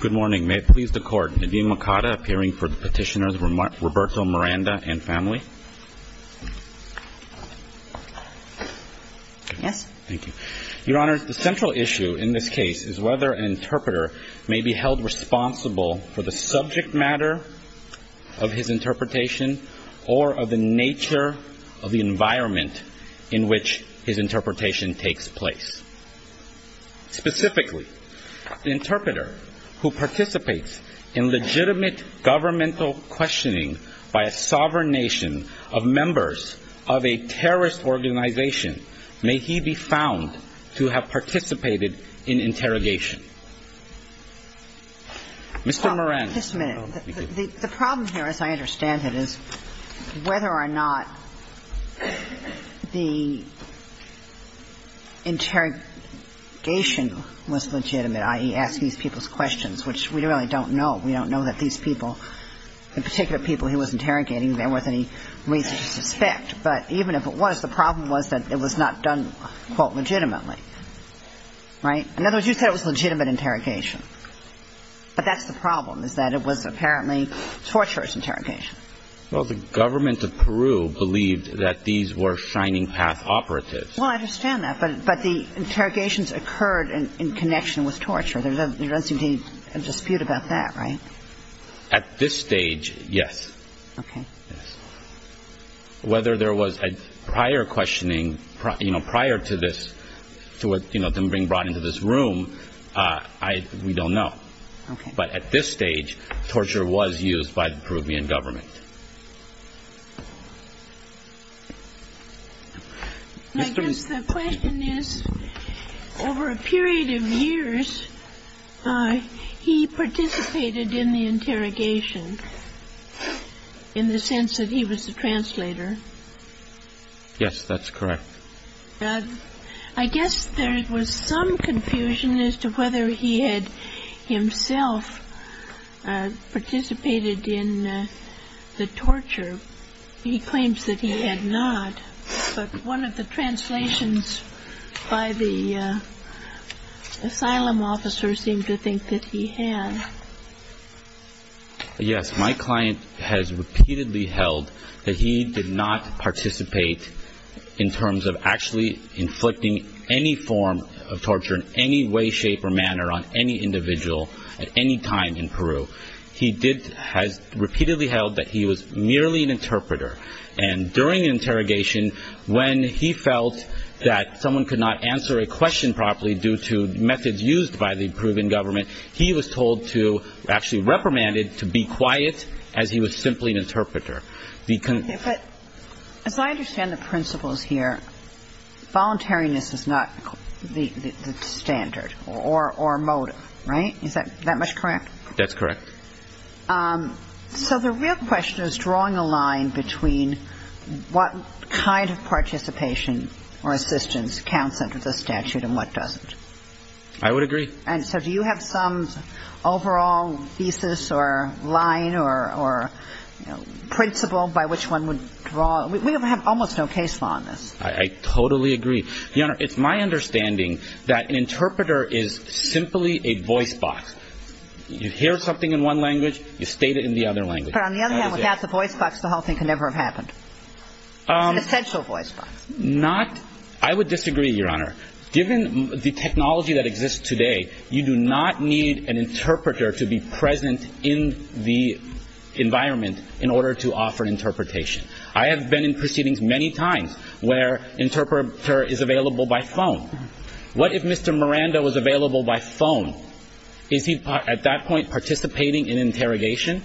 Good morning. May it please the Court, Nadine Mercado appearing for the Petitioners, Roberto Miranda and family. Yes. Thank you. Your Honors, the central issue in this case is whether an interpreter may be held responsible for the subject matter of his interpretation or of the nature of the environment in which his interpretation takes place. Specifically, an interpreter who participates in legitimate governmental questioning by a sovereign nation of members of a terrorist organization, may he be found to have participated in interrogation. Mr. Miranda. This minute. The problem here, as I understand it, is whether or not the interrogation was legitimate, i.e., ask these people's questions, which we really don't know. We don't know that these people, the particular people he was interrogating, there was any reason to suspect. But even if it was, the problem was that it was not done, quote, legitimately. Right? In other words, you said it was legitimate interrogation. But that's the problem, is that it was apparently torturous interrogation. Well, the government of Peru believed that these were Shining Path operatives. Well, I understand that. But the interrogations occurred in connection with torture. There doesn't seem to be a dispute about that, right? At this stage, yes. Okay. Yes. Whether there was prior questioning, you know, prior to this, to, you know, them being brought into this room, I, we don't know. Okay. But at this stage, torture was used by the Peruvian government. I guess the question is, over a period of years, he participated in the interrogation, in the sense that he was the translator. Yes, that's correct. I guess there was some confusion as to whether he had himself participated in the torture. He claims that he had not. But one of the translations by the asylum officer seemed to think that he had. Yes, my client has repeatedly held that he did not participate in terms of actually inflicting any form of torture in any way, shape, or manner on any individual at any time in Peru. He did, has repeatedly held that he was merely an interpreter. And during interrogation, when he felt that someone could not answer a question properly due to methods used by the Peruvian government, he was told to, actually reprimanded, to be quiet, as he was simply an interpreter. Okay, but as I understand the principles here, voluntariness is not the standard or motive, right? Is that much correct? That's correct. So the real question is drawing a line between what kind of participation or assistance counts under the statute and what doesn't. I would agree. And so do you have some overall thesis or line or principle by which one would draw? We have almost no case law on this. I totally agree. Your Honor, it's my understanding that an interpreter is simply a voice box. You hear something in one language, you state it in the other language. But on the other hand, without the voice box, the whole thing could never have happened. It's an essential voice box. Not, I would disagree, Your Honor. Given the technology that exists today, you do not need an interpreter to be present in the environment in order to offer interpretation. I have been in proceedings many times where interpreter is available by phone. What if Mr. Miranda was available by phone? Is he, at that point, participating in interrogation?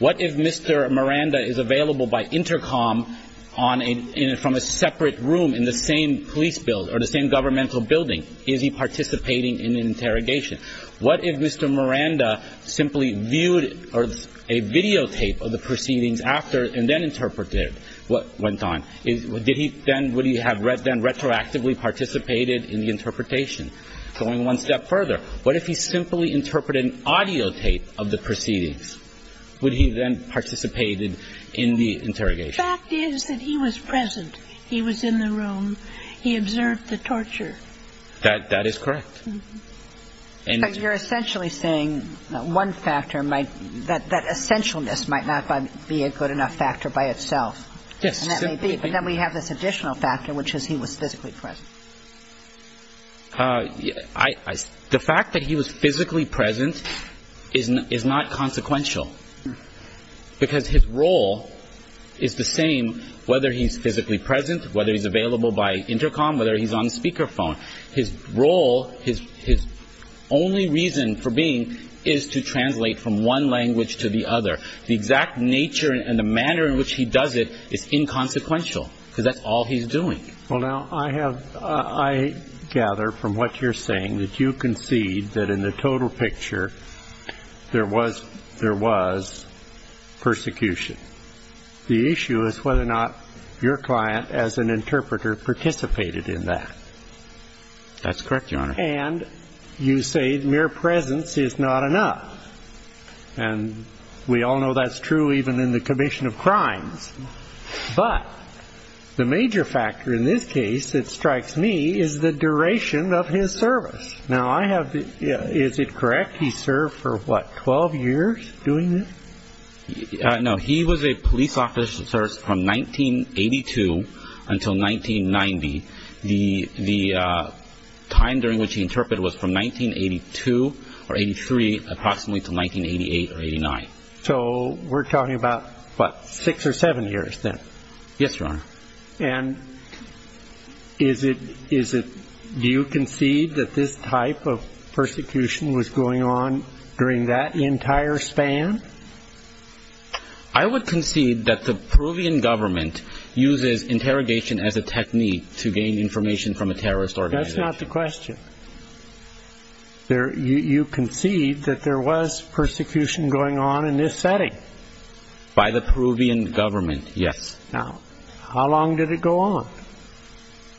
What if Mr. Miranda is available by intercom on a, in a, from a separate room in the same police bill or the same governmental building? Is he participating in an interrogation? What if Mr. Miranda simply viewed a videotape of the proceedings after and then interpreted what went on? Did he then, would he have then retroactively participated in the interpretation? Going one step further, what if he simply interpreted an audiotape of the proceedings? Would he then participated in the interrogation? The fact is that he was present. He was in the room. He observed the torture. That, that is correct. And you're essentially saying that one factor might, that, that essentialness might not be a good enough factor by itself. Yes. And that may be. But then we have this additional factor, which is he was physically present. Uh, I, I, the fact that he was physically present is, is not consequential because his role is the same, whether he's physically present, whether he's available by intercom, whether he's on speaker phone, his role, his, his only reason for being is to translate from one language to the other. The exact nature and the manner in which he does it is inconsequential because that's all he's doing. Well, now I have, uh, I gather from what you're saying that you concede that in the total picture there was, there was persecution. The issue is whether or not your client as an interpreter participated in that. That's correct, Your Honor. And you say mere presence is not enough. And we all know that's true even in the commission of crimes. But the major factor in this case that strikes me is the duration of his service. Now I have, is it correct he served for what, 12 years doing this? No, he was a police officer from 1982 until 1990. The, the, uh, time during which he interpreted was from 1982 or 83 approximately to 1988 or 89. So we're talking about what, six or seven years then? Yes, Your Honor. And is it, is it, do you concede that this type of persecution was going on during that entire span? I would concede that the Peruvian government uses interrogation as a technique to gain information from a terrorist organization. That's not the question. There, you, you concede that there was persecution going on in this setting? By the Peruvian government, yes. Now, how long did it go on?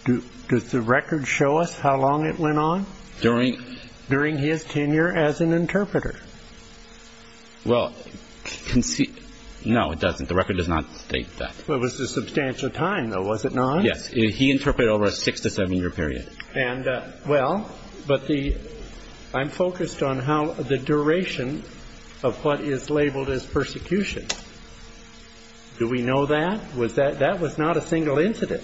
Do, does the record show us how long it went on? During? During his tenure as an interpreter. Well, concede, no it doesn't. The record does not state that. It was a substantial time though, was it not? Yes, he interpreted over a six to seven year period. And, uh, well, but the, I'm focused on how the duration of what is labeled as persecution. Do we know that? Was that, that was not a single incident.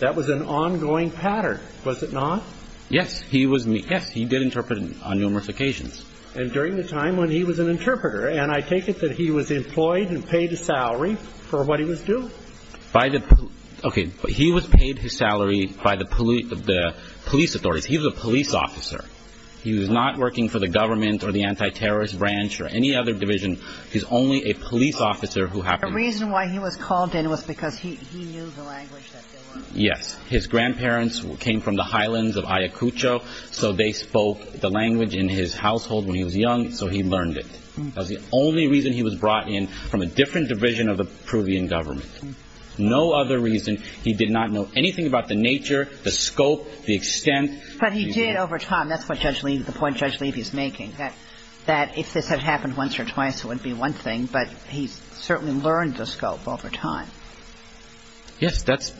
That was an ongoing pattern, was it not? Yes, he was, yes, he did interpret on numerous occasions. And during the time when he was an interpreter, and I take it that he was employed and paid a salary for what he was doing? By the, okay, he was paid his salary by the police, the police authorities. He was a police officer. He was not working for the government or the anti-terrorist branch or any other division. He's only a police officer who happened. The reason why he was called in was because he, he knew the language that they were. Yes, his grandparents came from the highlands of Ayacucho, so they spoke the language in his household when he was young, so he learned it. That was the only reason he was brought in from a different division of the Peruvian government. No other reason. He did not know anything about the nature, the scope, the extent. But he did over time. That's what Judge Levy, the point Judge Levy is making, that, that if this had happened once or twice, it wouldn't be one thing, but he certainly learned the scope over time. Yes, that's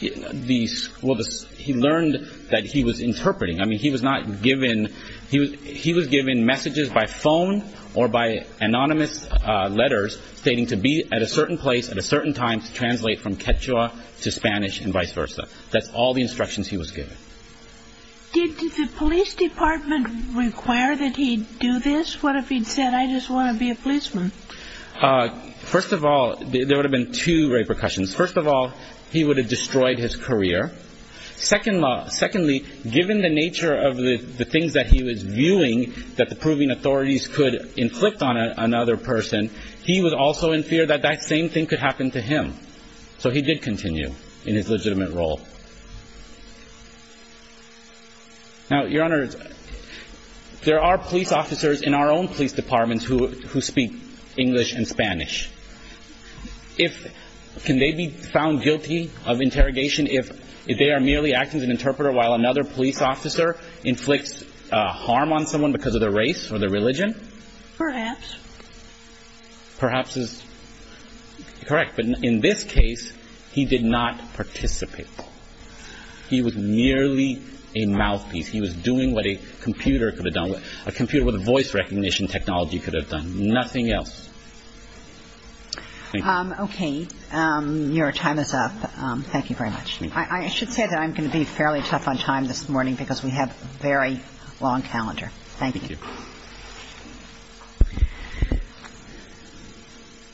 the, well, the, he learned that he was interpreting. I mean, he was not given, he was, he was given messages by phone or by anonymous letters stating to be at a certain place at a certain time to translate from Quechua to Spanish and vice versa. That's all the instructions he was given. Did the police department require that he do this? What if he'd said, I just want to be a policeman? First of all, there would have been two repercussions. First of all, he would have destroyed his career. Secondly, given the nature of the things that he was viewing, that the Peruvian authorities could inflict on another person, he was also in fear that that same thing could happen to him. So he did continue in his legitimate role. Now, Your Honor, there are police officers in our own police departments who speak English and Spanish. If, can they be found guilty of interrogation if they are merely acting as an interpreter while another police officer inflicts harm on someone because of their race or their religion? Perhaps. Perhaps is correct, but in this case, he did not participate. He was merely a mouthpiece. He was doing what a computer could have done, a computer with a voice recognition technology could have done, nothing else. Thank you. Okay. Your time is up. Thank you very much. I should say that I'm going to be fairly tough on time this morning because we have a very long calendar. Thank you. Thank you.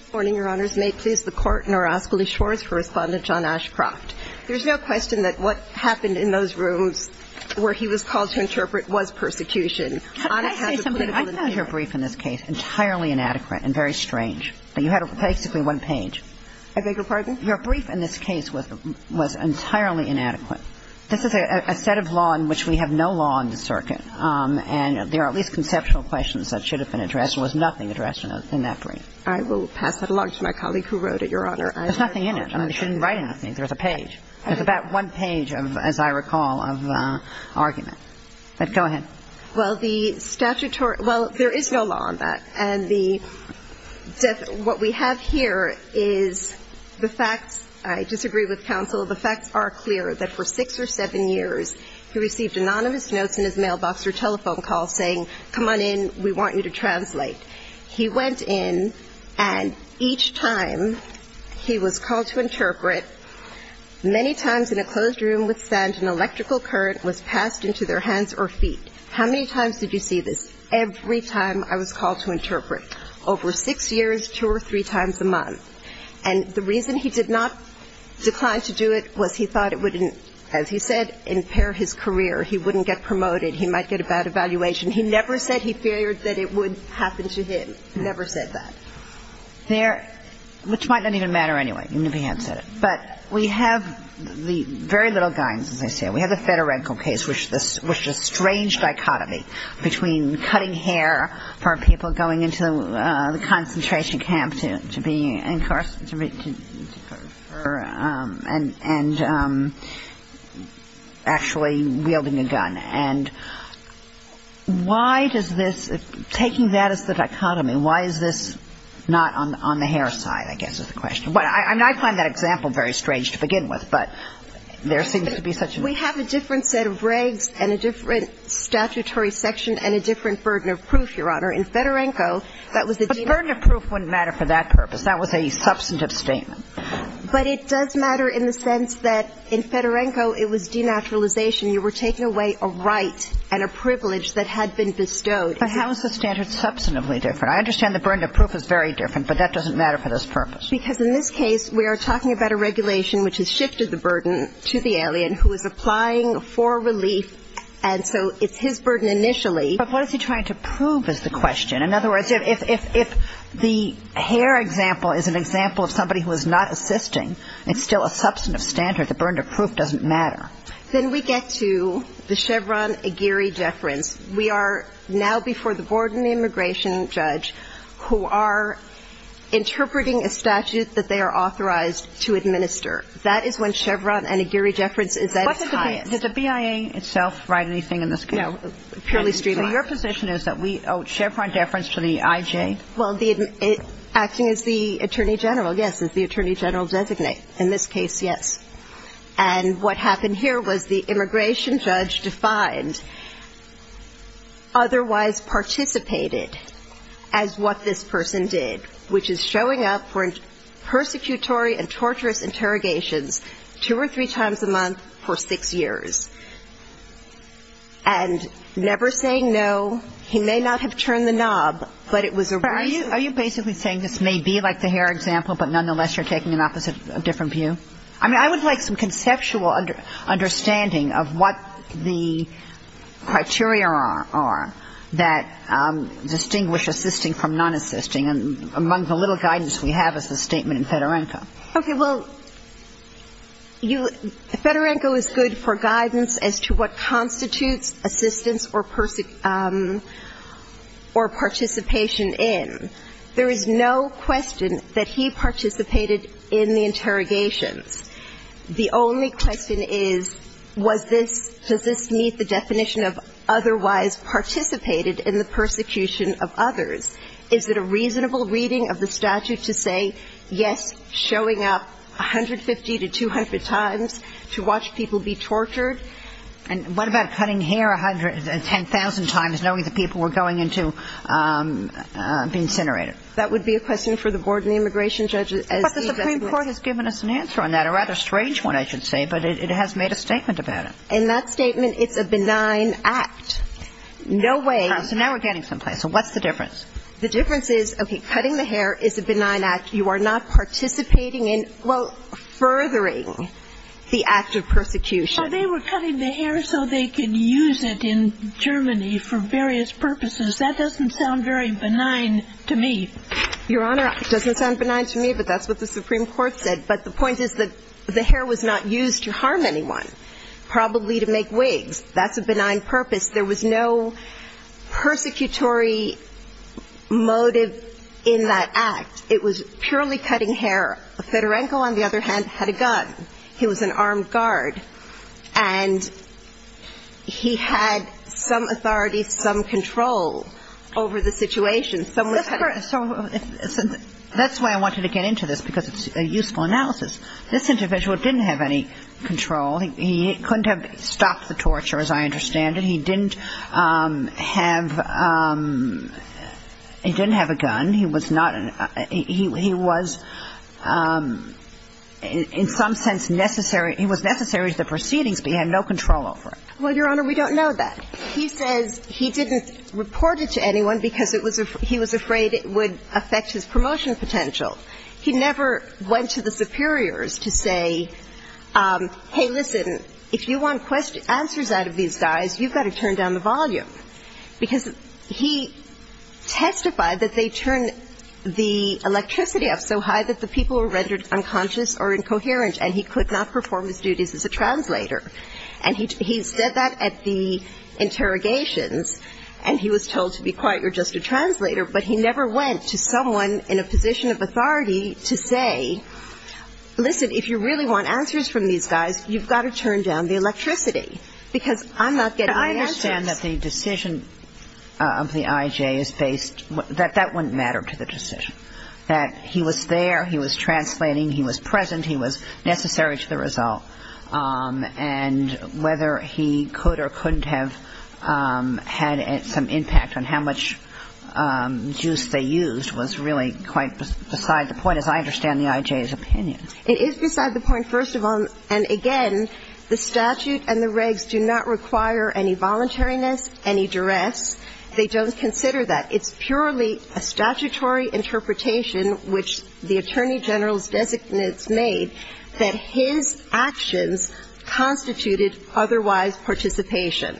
Good morning, Your Honors. May it please the Court, and I'll ask Alicia Schwartz for Respondent John Ashcroft. There's no question that what happened in those rooms where he was called to interpret was persecution. Could I say something? I found your brief in this case entirely inadequate and very strange. You had basically one page. I beg your pardon? Your brief in this case was entirely inadequate. This is a set of law in which we have no law in the circuit, and there are at least conceptual questions that should have been addressed. There was nothing addressed in that brief. I will pass it along to my colleague who wrote it, Your Honor. There's nothing in it. I mean, you shouldn't write anything. There's a page. There's about one page, as I recall, of argument. But go ahead. Well, the statutory – well, there is no law on that. And the – what we have here is the facts. I disagree with counsel. The facts are clear that for six or seven years, he received anonymous notes in his mailbox or telephone call saying, come on in, we want you to translate. He went in, and each time he was called to interpret, many times in a closed room with sand, an electrical current was passed into their hands or feet. How many times did you see this? Every time I was called to interpret. Over six years, two or three times a month. And the reason he did not decline to do it was he thought it would, as he said, impair his career. He wouldn't get promoted. He might get a bad evaluation. He never said he feared that it would happen to him. Never said that. There – which might not even matter anyway, even if he had said it. But we have the very little guidance, as I say. We have the Federenko case, which is a strange dichotomy between cutting hair for people going into the concentration camp to be – and actually wielding a gun. And why does this – taking that as the dichotomy, why is this not on the hair side, I guess, is the question. Well, I find that example very strange to begin with, but there seems to be such a – We have a different set of regs and a different statutory section and a different burden of proof, Your Honor. In Federenko, that was the – But the burden of proof wouldn't matter for that purpose. That was a substantive statement. But it does matter in the sense that in Federenko, it was denaturalization. You were taking away a right and a privilege that had been bestowed. But how is the standard substantively different? I understand the burden of proof is very different, but that doesn't matter for this purpose. Because in this case, we are talking about a regulation which has shifted the burden to the alien who is applying for relief, and so it's his burden initially. But what is he trying to prove is the question. In other words, if the hair example is an example of somebody who is not assisting, it's still a substantive standard. The burden of proof doesn't matter. Then we get to the Chevron-Aguirre deference. We are now before the board and the immigration judge who are interpreting a statute that they are authorized to administer. That is when Chevron-Aguirre deference is at its highest. Did the BIA itself write anything in this case? No. Purely streamlined. Your position is that we owe Chevron deference to the IJ? Well, acting as the attorney general, yes, as the attorney general designate. In this case, yes. And what happened here was the immigration judge defined otherwise participated as what this person did, which is showing up for persecutory and torturous interrogations two or three times a month for six years. And never saying no. He may not have turned the knob, but it was a reason. Are you basically saying this may be like the hair example, but nonetheless you're taking an opposite, a different view? I mean, I would like some conceptual understanding of what the criteria are that distinguish assisting from non-assisting among the little guidance we have as a statement in Fedorenko. Okay. Well, Fedorenko is good for guidance as to what constitutes assistance or participation in. There is no question that he participated in the interrogations. The only question is, was this, does this meet the definition of otherwise participated in the persecution of others? Is it a reasonable reading of the statute to say, yes, showing up 150 to 200 times to watch people be tortured? And what about cutting hair 10,000 times, knowing that people were going into being incinerated? That would be a question for the board and the immigration judge. But the Supreme Court has given us an answer on that, a rather strange one, I should say, but it has made a statement about it. And that statement, it's a benign act. No way. So now we're getting someplace. So what's the difference? The difference is, okay, cutting the hair is a benign act. You are not participating in, well, furthering the act of persecution. Well, they were cutting the hair so they could use it in Germany for various purposes. That doesn't sound very benign to me. Your Honor, it doesn't sound benign to me, but that's what the Supreme Court said. But the point is that the hair was not used to harm anyone, probably to make wigs. That's a benign purpose. There was no persecutory motive in that act. It was purely cutting hair. Fedorenko, on the other hand, had a gun. He was an armed guard, and he had some authority, some control over the situation. That's why I wanted to get into this, because it's a useful analysis. This individual didn't have any control. He couldn't have stopped the torture, as I understand it. He didn't have a gun. He was, in some sense, necessary. He was necessary to the proceedings, but he had no control over it. Well, Your Honor, we don't know that. He says he didn't report it to anyone because he was afraid it would affect his promotion potential. He never went to the superiors to say, hey, listen, if you want answers out of these guys, you've got to turn down the volume. Because he testified that they turned the electricity up so high that the people were rendered unconscious or incoherent, and he could not perform his duties as a translator. And he said that at the interrogations, and he was told to be quiet, you're just a translator. But he never went to someone in a position of authority to say, listen, if you really want answers from these guys, you've got to turn down the electricity, because I'm not getting the answers. But I understand that the decision of the I.J. is based – that that wouldn't matter to the decision, that he was there, he was translating, he was present, he was necessary to the result. And whether he could or couldn't have had some impact on how much juice they used was really quite beside the point, as I understand the I.J.'s opinion. It is beside the point, first of all. And, again, the statute and the regs do not require any voluntariness, any duress. They don't consider that. It's purely a statutory interpretation, which the Attorney General's designates made, that his actions constituted otherwise participation.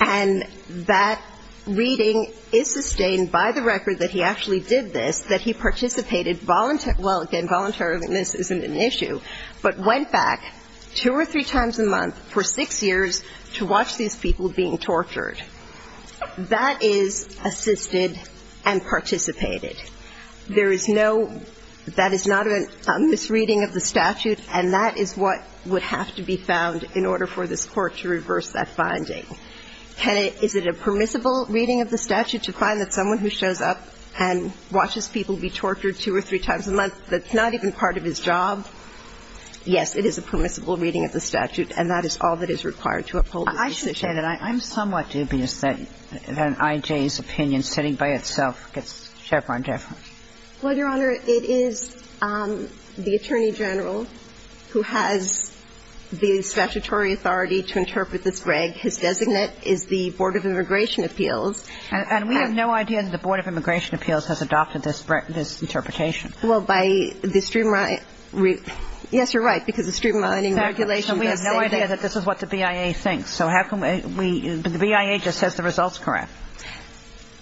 And that reading is sustained by the record that he actually did this, that he participated – well, again, voluntariness isn't an issue – but went back two or three times a month for six years to watch these people being tortured. That is assisted and participated. There is no – that is not a misreading of the statute, and that is what would have to be found in order for this Court to reverse that finding. Kennedy, is it a permissible reading of the statute to find that someone who shows up and watches people be tortured two or three times a month, that's not even part of his job? Yes, it is a permissible reading of the statute, and that is all that is required to uphold the statute. I should say that I'm somewhat dubious that an I.J.'s opinion, sitting by itself, gets Chevron deference. Well, Your Honor, it is the Attorney General who has the statutory authority to interpret this, Greg. His designate is the Board of Immigration Appeals. And we have no idea that the Board of Immigration Appeals has adopted this interpretation. Well, by the streamlining – yes, you're right, because the streamlining regulation does say that. So we have no idea that this is what the BIA thinks. So how can we – the BIA just says the result is correct.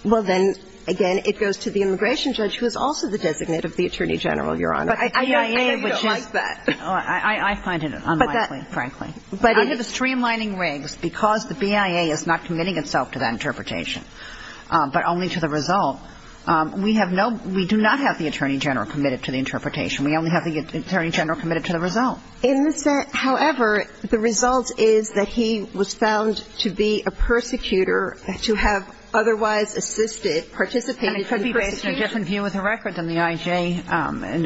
Well, then, again, it goes to the immigration judge, who is also the designate of the Attorney General, Your Honor. But I know you don't like that. I find it unlikely, frankly. But under the streamlining regs, because the BIA is not committing itself to that interpretation, but only to the result, we have no – we do not have the Attorney General committed to the interpretation. We only have the Attorney General committed to the result. However, the result is that he was found to be a persecutor, to have otherwise assisted, participated in the persecution. And it could be based on a different view of the record than the I.J.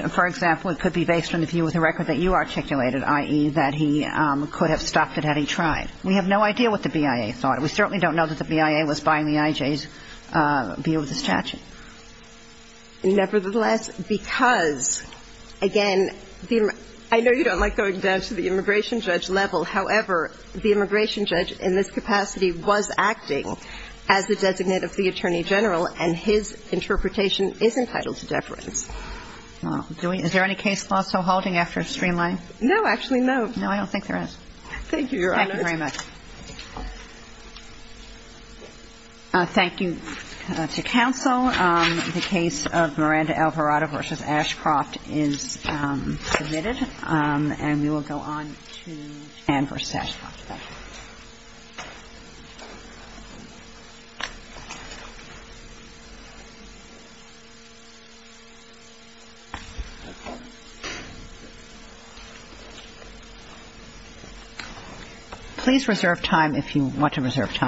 For example, it could be based on the view of the record that you articulated, i.e., that he could have stopped it had he tried. We have no idea what the BIA thought. We certainly don't know that the BIA was buying the I.J.'s view of the statute. Nevertheless, because, again, the – I know you don't like going down to the immigration judge level. However, the immigration judge in this capacity was acting as the designate of the Attorney General, and his interpretation is entitled to deference. Well, do we – is there any case law still holding after streamlining? No, actually, no. No, I don't think there is. Thank you, Your Honor. Thank you very much. Thank you to counsel. The case of Miranda Alvarado v. Ashcroft is submitted. Thank you. Please reserve time if you want to reserve time.